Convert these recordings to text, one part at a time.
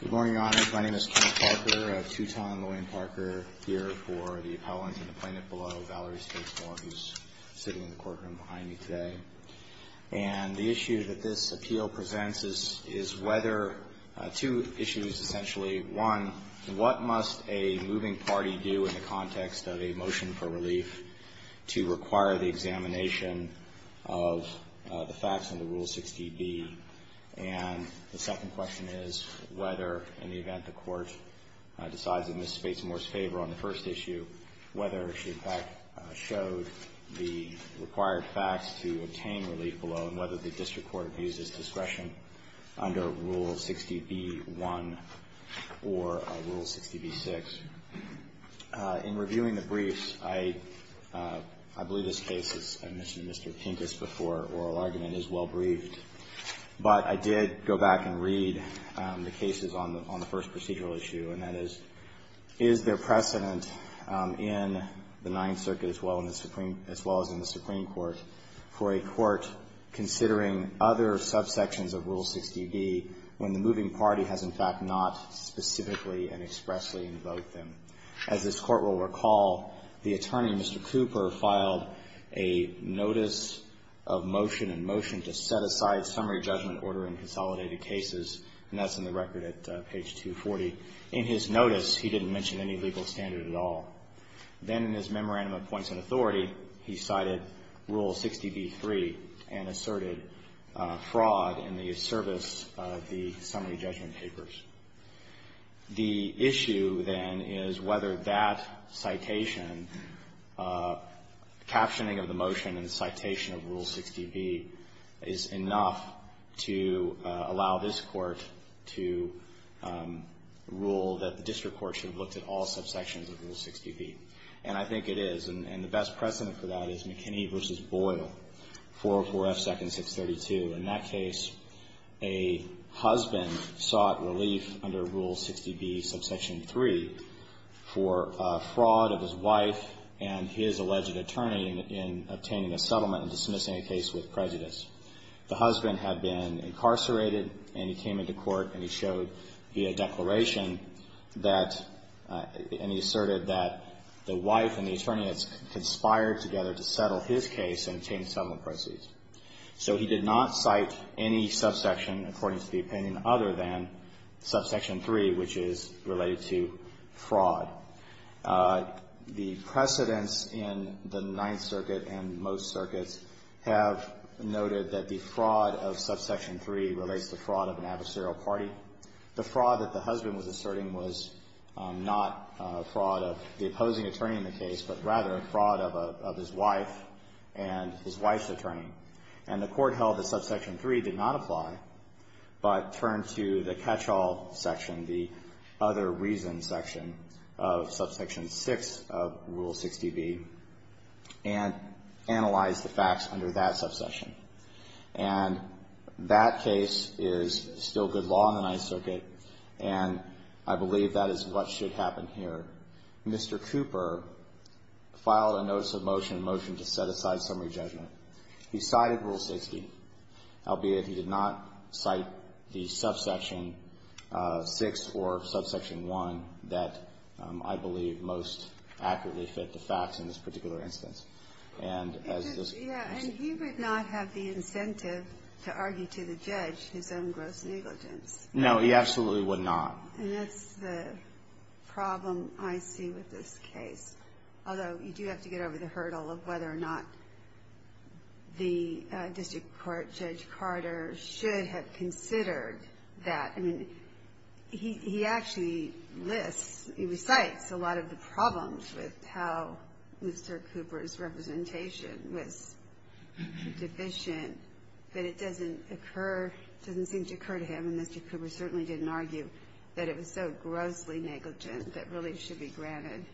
Good morning, Your Honors. My name is Kenneth Parker, a two-time LaWayne Parker here for the appellant in the plaintiff below, Valerie Spates-Moore, who's sitting in the courtroom behind me today. And the issue that this appeal presents is whether – two issues, essentially. One, what must a moving party do in the context of a motion for relief to require the examination of the facts under Rule 60B? And the second question is whether, in the event the Court decides in Ms. Spates-Moore's favor on the first issue, whether she, in fact, showed the required facts to obtain relief below, and whether the district court views this discretion under Rule 60B-1 or Rule 60B-6. In reviewing the briefs, I believe this case, as I mentioned to Mr. Pincus before, oral argument is well briefed. But I did go back and read the cases on the first procedural issue, and that is, is there precedent in the Ninth Circuit as well as in the Supreme Court for a court considering other subsections of Rule 60B when the moving party has, in fact, not specifically and expressly invoked them? As this Court will recall, the attorney, Mr. Cooper, filed a notice of motion and motion to set aside summary judgment order in consolidated cases, and that's in the record at page 240. In his notice, he didn't mention any legal standard at all. Then in his memorandum of points of authority, he cited Rule 60B-3 and asserted fraud in the service of the summary judgment papers. The issue, then, is whether that citation, captioning of the motion and the citation of Rule 60B, is enough to allow this Court to rule that the district court should have looked at all subsections of Rule 60B. And I think it is. And the best precedent for that is McKinney v. Boyle, 404 F. 2nd, 632. In that case, a husband sought relief under Rule 60B, subsection 3, for fraud of his wife and his alleged attorney in obtaining a settlement and dismissing a case with prejudice. The husband had been incarcerated, and he came into court, and he showed via declaration that, and he asserted that the wife and the attorney had conspired together to settle his case and obtain settlement proceeds. So he did not cite any subsection, according to the opinion, other than subsection 3, which is related to fraud. The precedents in the Ninth Circuit and most circuits have noted that the fraud of subsection 3 relates to fraud of an adversarial party. The fraud that the husband was asserting was not fraud of the opposing attorney in the case, but rather fraud of his wife and his wife's attorney. And the court held that subsection 3 did not apply, but turned to the catch-all section, the other reason section of subsection 6 of Rule 60B, and analyzed the facts under that subsection. And that case is still good law in the Ninth Circuit, and I believe that is what should happen here. Mr. Cooper filed a notice of motion, a motion to set aside summary judgment. He cited Rule 60, albeit he did not cite the subsection 6 or subsection 1 that I believe most accurately fit the facts in this particular instance. And as this ---- Yeah, and he would not have the incentive to argue to the judge his own gross negligence. No, he absolutely would not. And that's the problem I see with this case. Although you do have to get over the hurdle of whether or not the district court, Judge Carter, should have considered that. I mean, he actually lists, he recites a lot of the problems with how Mr. Cooper's representation was deficient, but it doesn't occur, doesn't seem to occur to him, and Mr. Cooper certainly didn't argue that it was so grossly negligent that relief should be granted.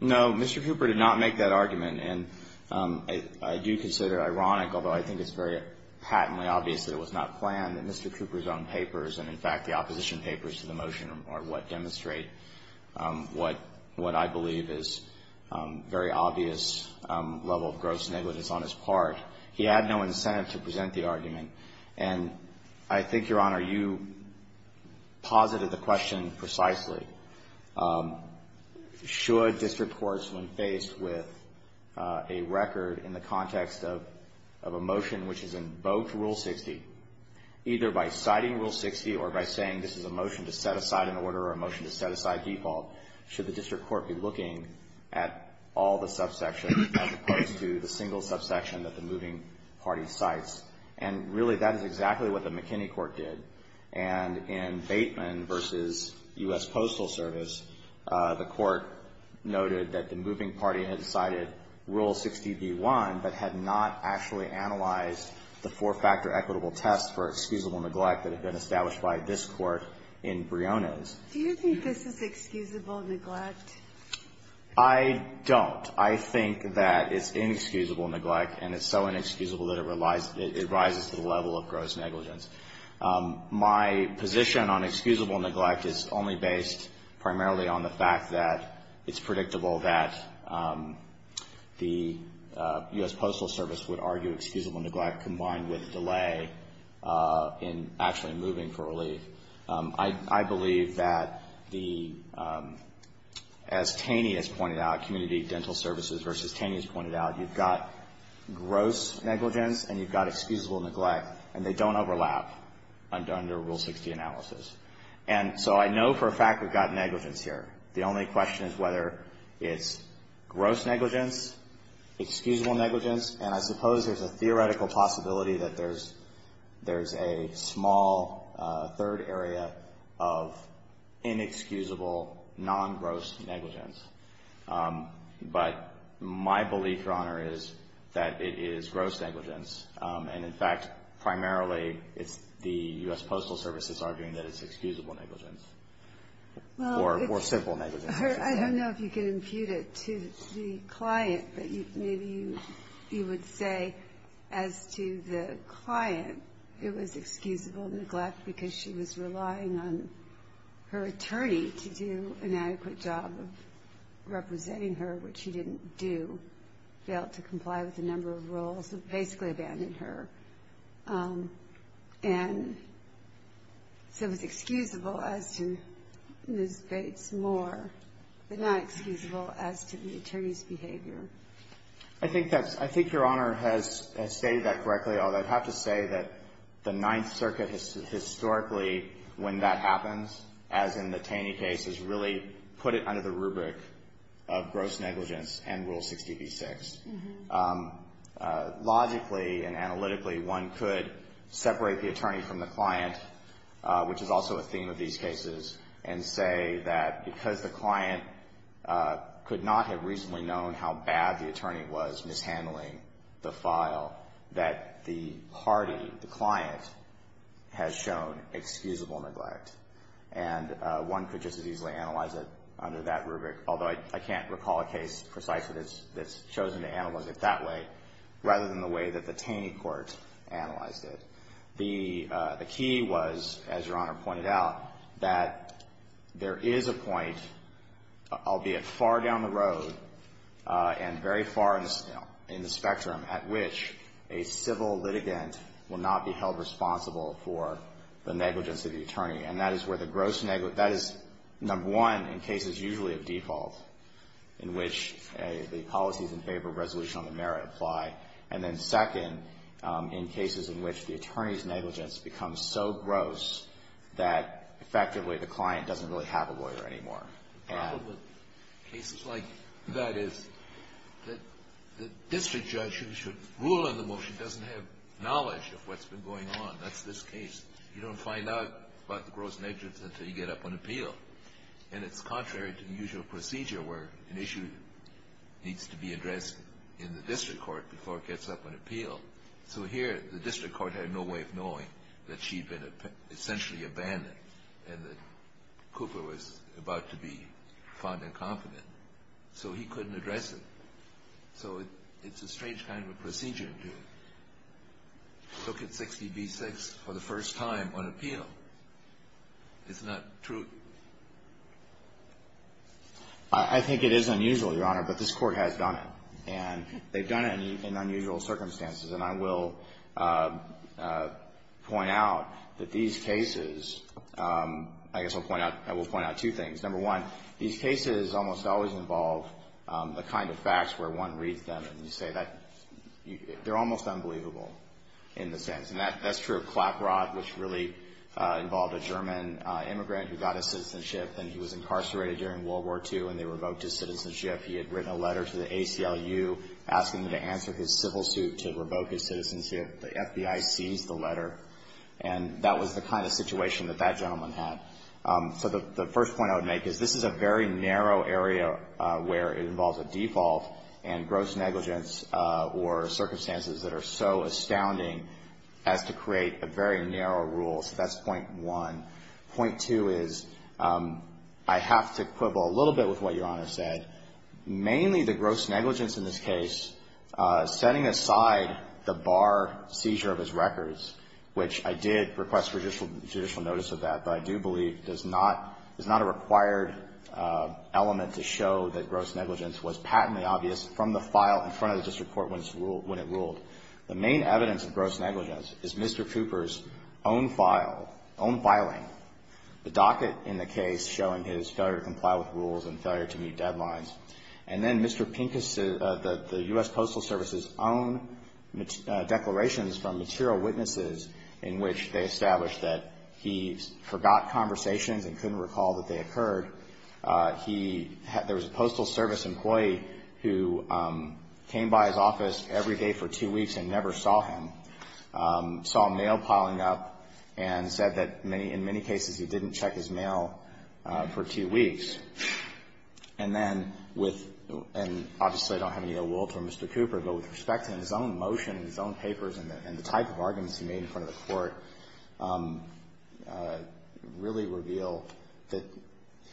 No. Mr. Cooper did not make that argument, and I do consider it ironic, although I think it's very patently obvious that it was not planned, that Mr. Cooper's own papers and, in fact, the opposition papers to the motion are what demonstrate what I believe is very obvious level of gross negligence on his part. He had no incentive to present the argument. And I think, Your Honor, you posited the question precisely. Should district courts, when faced with a record in the context of a motion which is in both Rule 60, either by citing Rule 60 or by saying this is a motion to set aside an order or a motion to set aside default, should the district court be looking at all the subsections as opposed to the single subsection that the moving party cites? And, really, that is exactly what the McKinney court did. And in Bateman v. U.S. Postal Service, the court noted that the moving party had cited Rule 60b-1, but had not actually analyzed the four-factor equitable test for excusable neglect that had been established by this court in Briones. Do you think this is excusable neglect? I don't. I think that it's inexcusable neglect, and it's so inexcusable that it rises to the level of gross negligence. My position on excusable neglect is only based primarily on the fact that it's predictable that the U.S. Postal Service would argue excusable neglect combined with delay in actually moving for relief. I believe that the, as Taney has pointed out, Community Dental Services v. Taney has pointed out, you've got gross negligence and you've got excusable neglect, and they don't overlap under Rule 60 analysis. And so I know for a fact we've got negligence here. The only question is whether it's gross negligence, excusable negligence, and I suppose there's a theoretical possibility that there's a small third area of inexcusable non-gross negligence. But my belief, Your Honor, is that it is gross negligence. And, in fact, primarily it's the U.S. Postal Service that's arguing that it's excusable negligence or simple negligence. I don't know if you can impute it to the client, but maybe you would say as to the client, it was excusable neglect because she was relying on her attorney to do an adequate job of representing her, which she didn't do, failed to comply with a number of rules, basically abandoned her. And so it was excusable as to Ms. Bates more, but not excusable as to the attorney's behavior. I think that's – I think Your Honor has stated that correctly, although I'd have to say that the Ninth Circuit historically, when that happens, as in the Taney case, has really put it under the rubric of gross negligence and Rule 60b-6. Logically and analytically, one could separate the attorney from the client, which is also a theme of these cases, and say that because the client could not have reasonably known how bad the attorney was mishandling the file, that the party, the client, has shown excusable neglect. And one could just as easily analyze it under that rubric, although I can't recall a case precisely that's chosen to analyze it that way, rather than the way that the Taney court analyzed it. The key was, as Your Honor pointed out, that there is a point, albeit far down the road and very far in the spectrum, at which a civil litigant will not be held responsible for the negligence of the attorney. And that is where the gross – that is, number one, in cases usually of default, in which the policies in favor of resolution on the merit apply, and then second, in cases in which the attorney's negligence becomes so gross that effectively the client doesn't really have a lawyer anymore. The problem with cases like that is that the district judge who should rule on the motion doesn't have knowledge of what's been going on. That's this case. You don't find out about the gross negligence until you get up on appeal. And it's contrary to the usual procedure where an issue needs to be addressed in the district court before it gets up on appeal. So here, the district court had no way of knowing that she'd been essentially abandoned and that Cooper was about to be found incompetent. So he couldn't address it. So it's a strange kind of a procedure to look at 60b-6 for the first time on appeal. It's not true. I think it is unusual, Your Honor, but this Court has done it. And they've done it in unusual circumstances. And I will point out that these cases, I guess I'll point out, I will point out two things. Number one, these cases almost always involve the kind of facts where one reads them and you say that they're almost unbelievable in the sense. And that's true of Klaprod, which really involved a German immigrant who got his citizenship, and he was incarcerated during World War II, and they revoked his citizenship. He had written a letter to the ACLU asking them to answer his civil suit to revoke his citizenship. The FBI seized the letter. And that was the kind of situation that that gentleman had. So the first point I would make is this is a very narrow area where it involves a default and gross negligence or circumstances that are so astounding as to create a very narrow rule. So that's point one. Point two is I have to quibble a little bit with what Your Honor said. Mainly the gross negligence in this case, setting aside the bar seizure of his records, which I did request judicial notice of that, but I do believe does not, is not a required element to show that gross negligence was patently obvious from the file in front of the district court when it's ruled, when it ruled. The main evidence of gross negligence is Mr. Cooper's own file, own filing, the docket in the case showing his failure to comply with rules and failure to meet deadlines. And then Mr. Pincus, the U.S. Postal Service's own declarations from material witnesses in which they established that he forgot conversations and couldn't recall that they occurred. There was a Postal Service employee who came by his office every day for two weeks and never saw him, saw a mail piling up and said that in many cases he didn't check his mail for two weeks. And then with, and obviously I don't have any ill will toward Mr. Cooper, but with respect to his own motion and his own papers and the type of arguments he made in front of the Court, I don't think I can really reveal that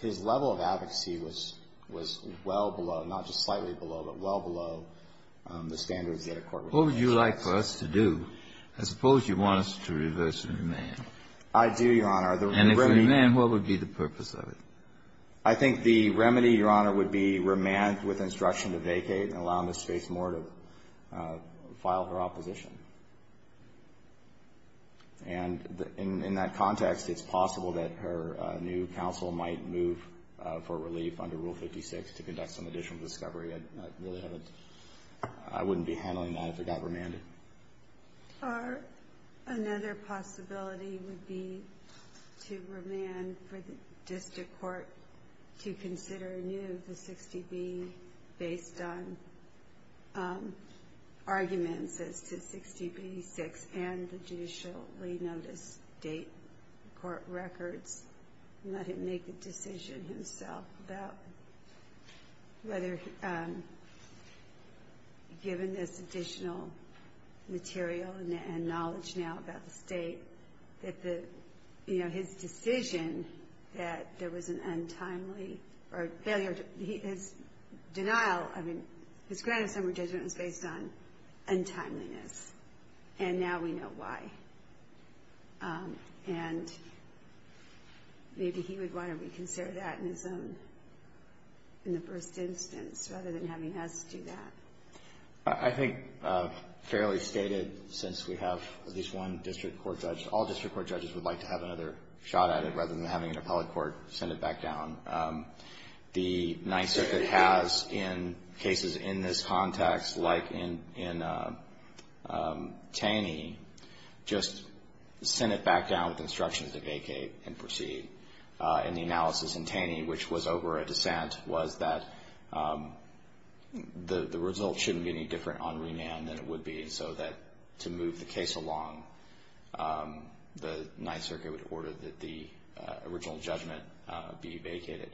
his level of advocacy was, was well below, not just slightly below, but well below the standards that a court would expect. Kennedy, what would you like for us to do? I suppose you want us to reverse the remand. I do, Your Honor. And if we remand, what would be the purpose of it? I think the remedy, Your Honor, would be remand with instruction to vacate and allow Ms. Space more to file her opposition. And in that context, it's possible that her new counsel might move for relief under Rule 56 to conduct some additional discovery. I really haven't, I wouldn't be handling that if it got remanded. Or another possibility would be to remand for the District Court to consider anew the 60B based on arguments as to 60B-6 and the judicially noticed date, court records, and let him make a decision himself about whether, given this additional material and knowledge now about the state, that the, you know, his decision that there was an untimely or failure, his denial, I mean, his grant of summary judgment was based on untimeliness. And now we know why. And maybe he would want to reconsider that in his own, in the first instance, rather than having us do that. I think fairly stated, since we have at least one District Court judge, all District Court judges would like to have another shot at it, rather than having an appellate court send it back down. The Ninth Circuit has, in cases in this context, like in Taney, just sent it back down with instructions to vacate and proceed. And the analysis in Taney, which was over a dissent, was that the result shouldn't be any different on remand than it would be, so that to move the case along, the Ninth Circuit would order that the original judgment be vacated.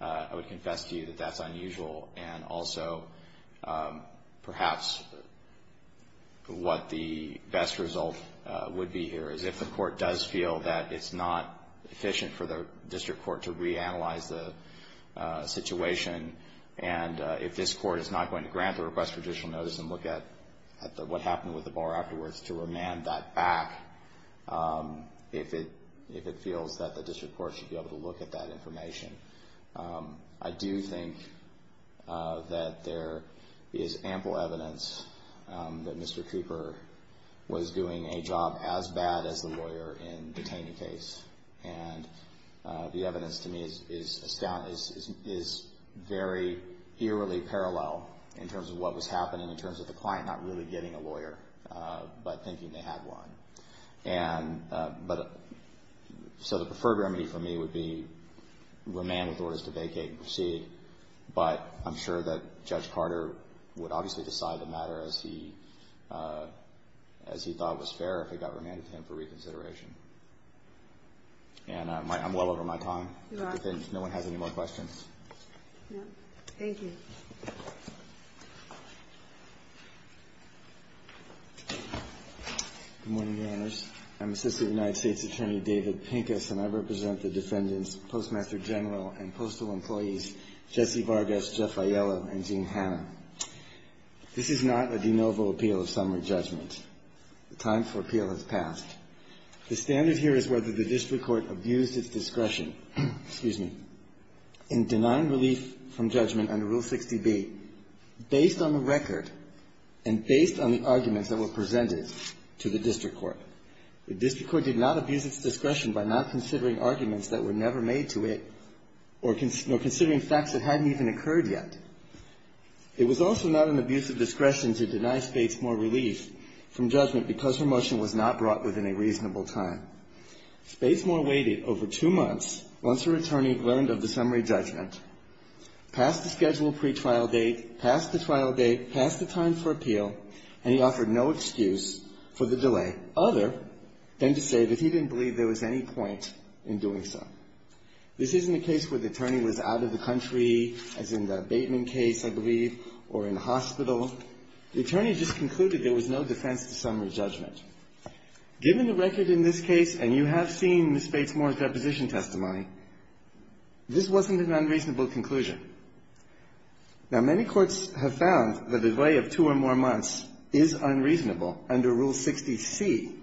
I would confess to you that that's unusual. And also, perhaps what the best result would be here is if the court does feel that it's not efficient for the District Court to reanalyze the situation, and if this court is not going to grant the request for additional notice and look at what happened with the bar afterwards to remand that back, if it feels that the District Court should be able to look at that information. I do think that there is ample evidence that Mr. Creeper was doing a job as bad as the lawyer in the Taney case. And the evidence to me is very eerily parallel in terms of what was happening, in terms of the client not really getting a lawyer, but thinking they had one. And so the preferred remedy for me would be remand with orders to vacate and proceed, but I'm sure that Judge Carter would obviously decide the matter as he thought was fair if it got remanded to him for reconsideration. And I'm well over my time. If no one has any more questions. Thank you. Good morning, Your Honors. I'm Assistant United States Attorney David Pincus, and I represent the defendants Postmaster General and Postal Employees Jesse Vargas, Jeff Aiello, and Jean Hanna. This is not a de novo appeal of summary judgment. The time for appeal has passed. The standard here is whether the district court abused its discretion, excuse me, in denying relief from judgment under Rule 60B based on the record and based on the arguments that were presented to the district court. The district court did not abuse its discretion by not considering arguments that were never made to it or considering facts that hadn't even occurred yet. It was also not an abuse of discretion to deny Spacemore relief from judgment because her motion was not brought within a reasonable time. Spacemore waited over two months once her attorney learned of the summary judgment, passed the scheduled pretrial date, passed the trial date, passed the time for appeal, and he offered no excuse for the delay other than to say that he didn't believe there was any point in doing so. This isn't a case where the attorney was out of the country, as in the Bateman case, I believe, or in hospital. The attorney just concluded there was no defense to summary judgment. Given the record in this case, and you have seen Ms. Spacemore's deposition testimony, this wasn't an unreasonable conclusion. Now, many courts have found that a delay of two or more months is unreasonable under Rule 60C.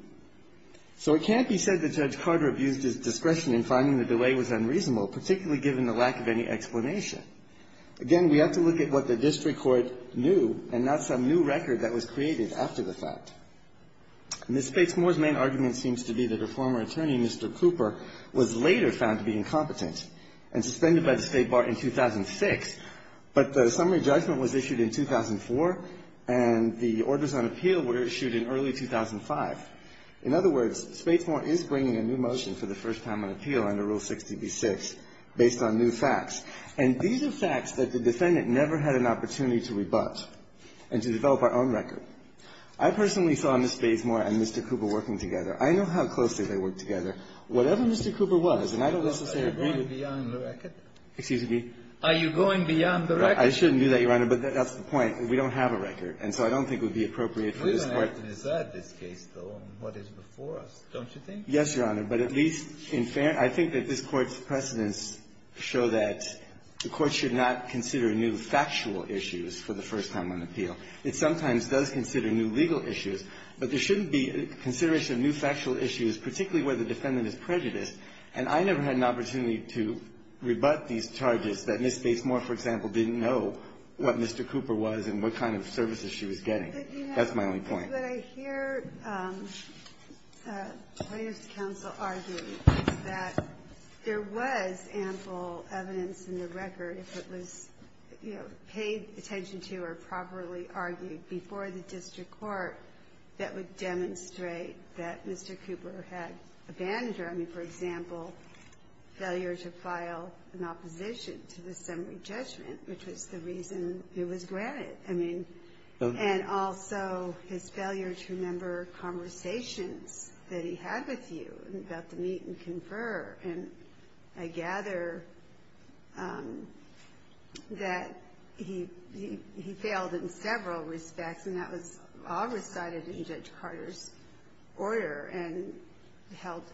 So it can't be said that Judge Carter abused his discretion in finding the delay was unreasonable, particularly given the lack of any explanation. Again, we have to look at what the district court knew and not some new record that was created after the fact. Ms. Spacemore's main argument seems to be that her former attorney, Mr. Cooper, was later found to be incompetent and suspended by the State Bar in 2006, but the summary judgment was issued in 2004, and the orders on appeal were issued in early 2005. In other words, Spacemore is bringing a new motion for the first time on appeal under Rule 60B-6 based on new facts. And these are facts that the defendant never had an opportunity to rebut and to develop our own record. I personally saw Ms. Spacemore and Mr. Cooper working together. I know how closely they worked together. Whatever Mr. Cooper was, and I don't necessarily agree with him. Excuse me? Are you going beyond the record? I shouldn't do that, Your Honor, but that's the point. We don't have a record, and so I don't think it would be appropriate for this Court to decide this case, though, on what is before us, don't you think? Yes, Your Honor. But at least in fairness, I think that this Court's precedents show that the Court should not consider new factual issues for the first time on appeal. It sometimes does consider new legal issues, but there shouldn't be consideration of new factual issues, particularly where the defendant is prejudiced. And I never had an opportunity to rebut these charges that Ms. Spacemore, for example, didn't know what Mr. Cooper was and what kind of services she was getting. That's my only point. But, Your Honor, what I hear the plaintiffs' counsel argue is that there was ample evidence in the record, if it was, you know, paid attention to or properly argued before the district court, that would demonstrate that Mr. Cooper had abandoned his failure, I mean, for example, failure to file an opposition to the summary judgment, which was the reason he was granted. I mean, and also his failure to remember conversations that he had with you about the meet and confer. And I gather that he failed in several respects, and that was all recited in Judge Kagan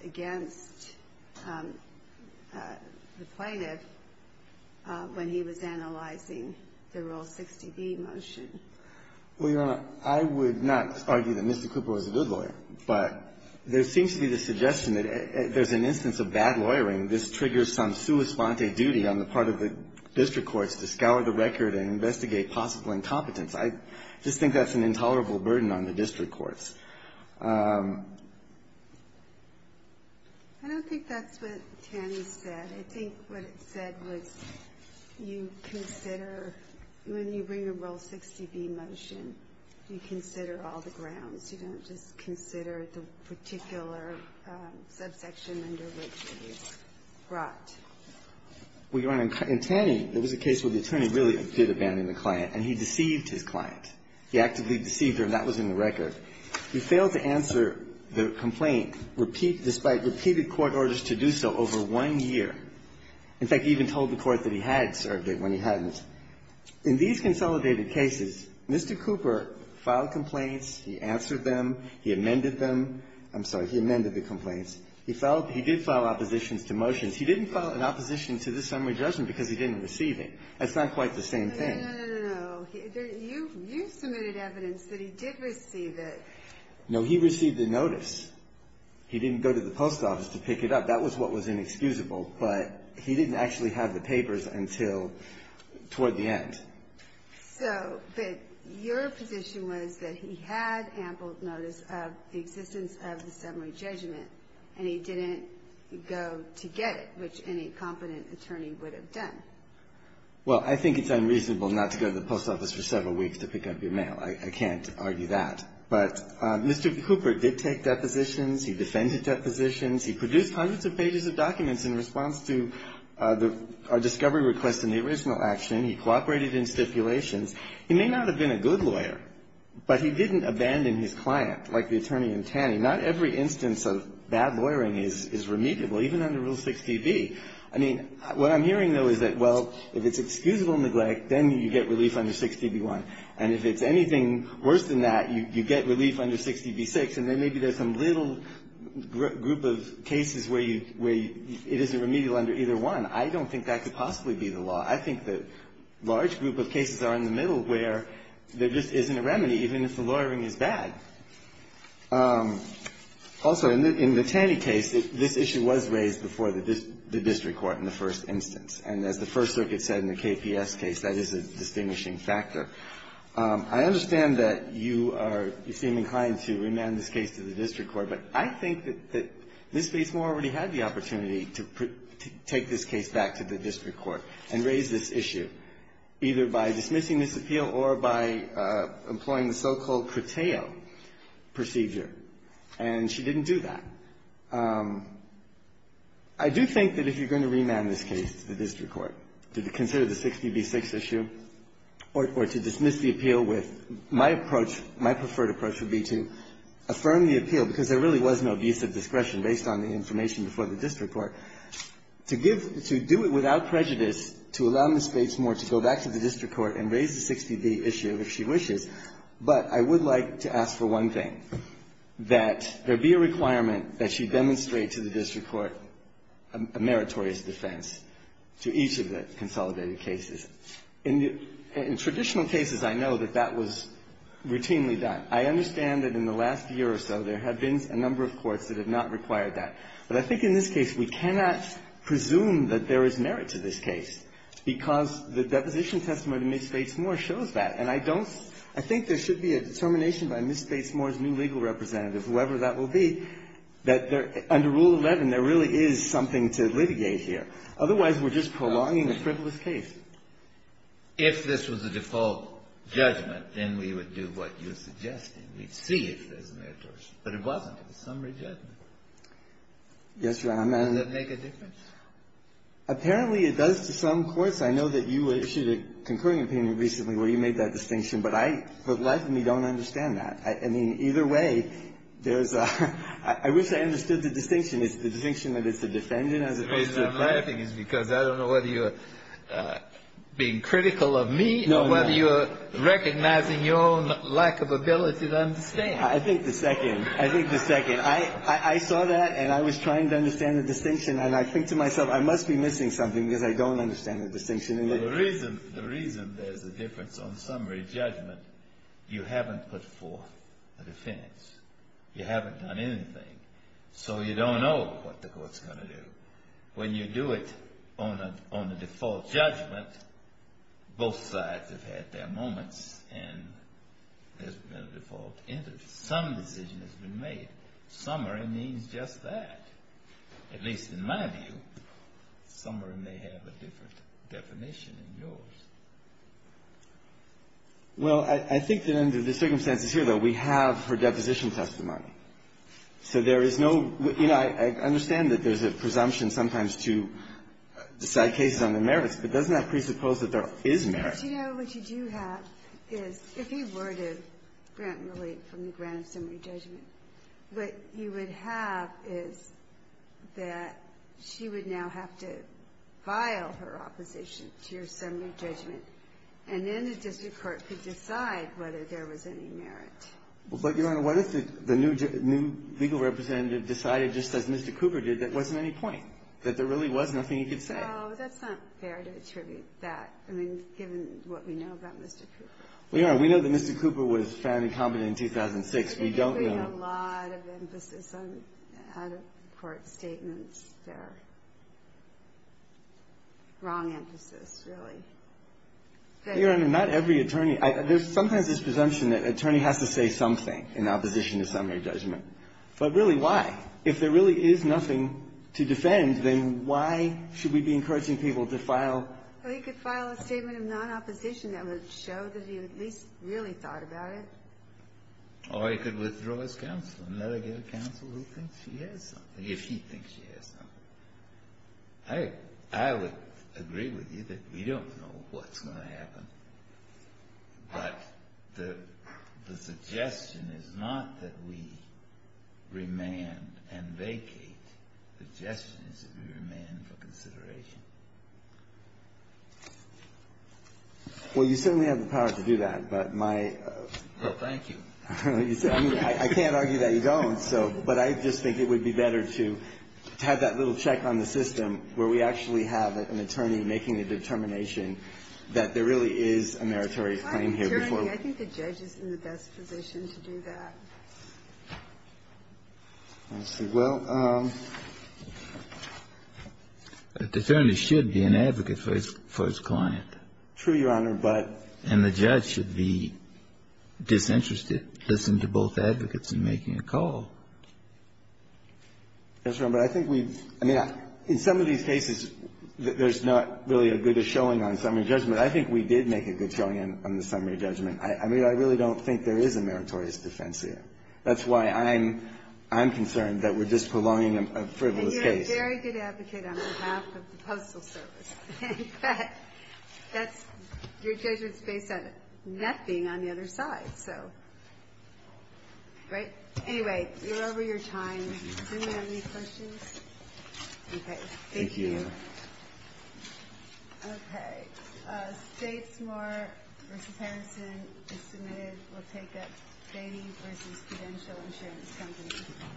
against the plaintiff when he was analyzing the Rule 60b motion. Well, Your Honor, I would not argue that Mr. Cooper was a good lawyer, but there seems to be the suggestion that there's an instance of bad lawyering. This triggers some sua sponte duty on the part of the district courts to scour the record and investigate possible incompetence. I just think that's an intolerable burden on the district courts. I don't think that's what Tanny said. I think what it said was you consider, when you bring a Rule 60b motion, you consider all the grounds. You don't just consider the particular subsection under which it was brought. Well, Your Honor, in Tanny, there was a case where the attorney really did abandon the client, and he deceived his client. He actively deceived her, and that was in the record. He failed to answer the complaint, despite repeated court orders to do so, over one year. In fact, he even told the court that he had served it when he hadn't. In these consolidated cases, Mr. Cooper filed complaints. He answered them. He amended them. I'm sorry. He amended the complaints. He did file oppositions to motions. He didn't file an opposition to this summary judgment because he didn't receive That's not quite the same thing. No, no, no, no. You submitted evidence that he did receive it. No. He received the notice. He didn't go to the post office to pick it up. That was what was inexcusable, but he didn't actually have the papers until toward the end. So, but your position was that he had ample notice of the existence of the summary judgment, and he didn't go to get it, which any competent attorney would have done. Well, I think it's unreasonable not to go to the post office for several weeks to pick up your mail. I can't argue that. But Mr. Cooper did take depositions. He defended depositions. He produced hundreds of pages of documents in response to our discovery request in the original action. He cooperated in stipulations. He may not have been a good lawyer, but he didn't abandon his client like the attorney in Taney. Not every instance of bad lawyering is remediable, even under Rule 6dB. I mean, what I'm hearing, though, is that, well, if it's excusable neglect, then you get relief under 6dB1, and if it's anything worse than that, you get relief under 6dB6, and then maybe there's some little group of cases where you – where it isn't remedial under either one. I don't think that could possibly be the law. I think the large group of cases are in the middle where there just isn't a remedy, even if the lawyering is bad. Also, in the Taney case, this issue was raised before the district court in the first instance, and as the First Circuit said in the KPS case, that is a distinguishing factor. I understand that you are – you seem inclined to remand this case to the district court, but I think that Ms. Batesmore already had the opportunity to take this case back to the district court and raise this issue, either by dismissing this appeal or by employing the so-called Corteo procedure, and she didn't do that. I do think that if you're going to remand this case to the district court to consider the 6dB6 issue or to dismiss the appeal with my approach, my preferred approach would be to affirm the appeal, because there really was no abuse of discretion based on the information before the district court, to give – to do it without prejudice to allow Ms. Batesmore to go back to the district court and raise the 6dB issue if she wishes, but I would like to ask for one thing, that there be a requirement that she demonstrate to the district court a meritorious defense to each of the consolidated cases. In traditional cases, I know that that was routinely done. I understand that in the last year or so, there have been a number of courts that have not required that, but I think in this case, we cannot presume that there is merit to this case because the deposition testimony to Ms. Batesmore shows that, and I don't – I think there should be a determination by Ms. Batesmore's new legal representative, whoever that will be, that there – under Rule 11, there really is something to litigate here. Otherwise, we're just prolonging the frivolous case. Breyer. If this was a default judgment, then we would do what you're suggesting. We'd see if there's merit to it. But it wasn't. It was some rejectment. Gershengorn Yes, Your Honor. Breyer. Does that make a difference? Gershengorn Apparently, it does to some courts. I know that you issued a concurring opinion recently where you made that distinction, but I – but life of me don't understand that. I mean, either way, there's a – I wish I understood the distinction. Is the distinction that it's the defendant as opposed to the defendant? Breyer. The reason I'm laughing is because I don't know whether you're being critical of me or whether you're recognizing your own lack of ability to understand. Gershengorn I think the second – I think the second. I saw that, and I was trying to understand the distinction. And I think to myself, I must be missing something because I don't understand the distinction. Breyer. Well, the reason – the reason there's a difference on summary judgment, you haven't put forth a defense. You haven't done anything. So you don't know what the court's going to do. When you do it on a – on a default judgment, both sides have had their moments and there's been a default interest. Some decision has been made. Summary means just that, at least in my view. Summary may have a different definition than yours. Gershengorn Well, I think that under the circumstances here, though, we have her deposition testimony. So there is no – you know, I understand that there's a presumption sometimes to decide cases on the merits, but doesn't that presuppose that there is merit? Ginsburg Do you know what you do have is if he were to grant relief from the grant of summary judgment, what you would have is that she would now have to file her opposition to your summary judgment, and then the district court could decide whether there was any merit. Gershengorn Well, but, Your Honor, what if the new legal representative decided just as Mr. Cooper did that there wasn't any point, that there really was nothing he could say? Ginsburg Oh, that's not fair to attribute that, I mean, given what we know about Mr. Cooper. Gershengorn Well, Your Honor, we know that Mr. Cooper was found incompetent in 2006. We don't know – Ginsburg He's putting a lot of emphasis on out-of-court statements. They're wrong emphasis, really. Gershengorn Your Honor, not every attorney – there's sometimes this presumption that an attorney has to say something in opposition to summary judgment. But really, why? If there really is nothing to defend, then why should we be encouraging people to file? Ginsburg Well, he could file a statement of non-opposition that would show that he at least really thought about it. Breyer Or he could withdraw his counsel and let her get a counsel who thinks she has something, if he thinks she has something. But the suggestion is not that we remand and vacate. The suggestion is that we remand for consideration. Gershengorn Well, you certainly have the power to do that, but my – Breyer Well, thank you. Gershengorn I can't argue that you don't, so – but I just think it would be better to have that little check on the system where we actually have an attorney making a determination that there really is a meritorious claim here before we – Ginsburg I'm assuring you, I think the judge is in the best position to do that. Breyer Well, let's see. Well, an attorney should be an advocate for his client. Gershengorn True, Your Honor, but – Breyer And the judge should be disinterested, listen to both advocates in making a call. Gershengorn Yes, Your Honor, but I think we've I mean, in some of these cases, there's not really a good showing on summary judgment. I think we did make a good showing on the summary judgment. I mean, I really don't think there is a meritorious defense here. That's why I'm – I'm concerned that we're just prolonging a frivolous case. Ginsburg And you're a very good advocate on behalf of the Postal Service. In fact, that's – your judgment is based on nothing on the other side, so. Right? Anyway, you're over your time. Do we have any questions? Okay. Thank you. Gershengorn Thank you, Your Honor. Ginsburg Okay. Statesmore v. Harrison is submitted. We'll take up Beatty v. Credential Insurance Company.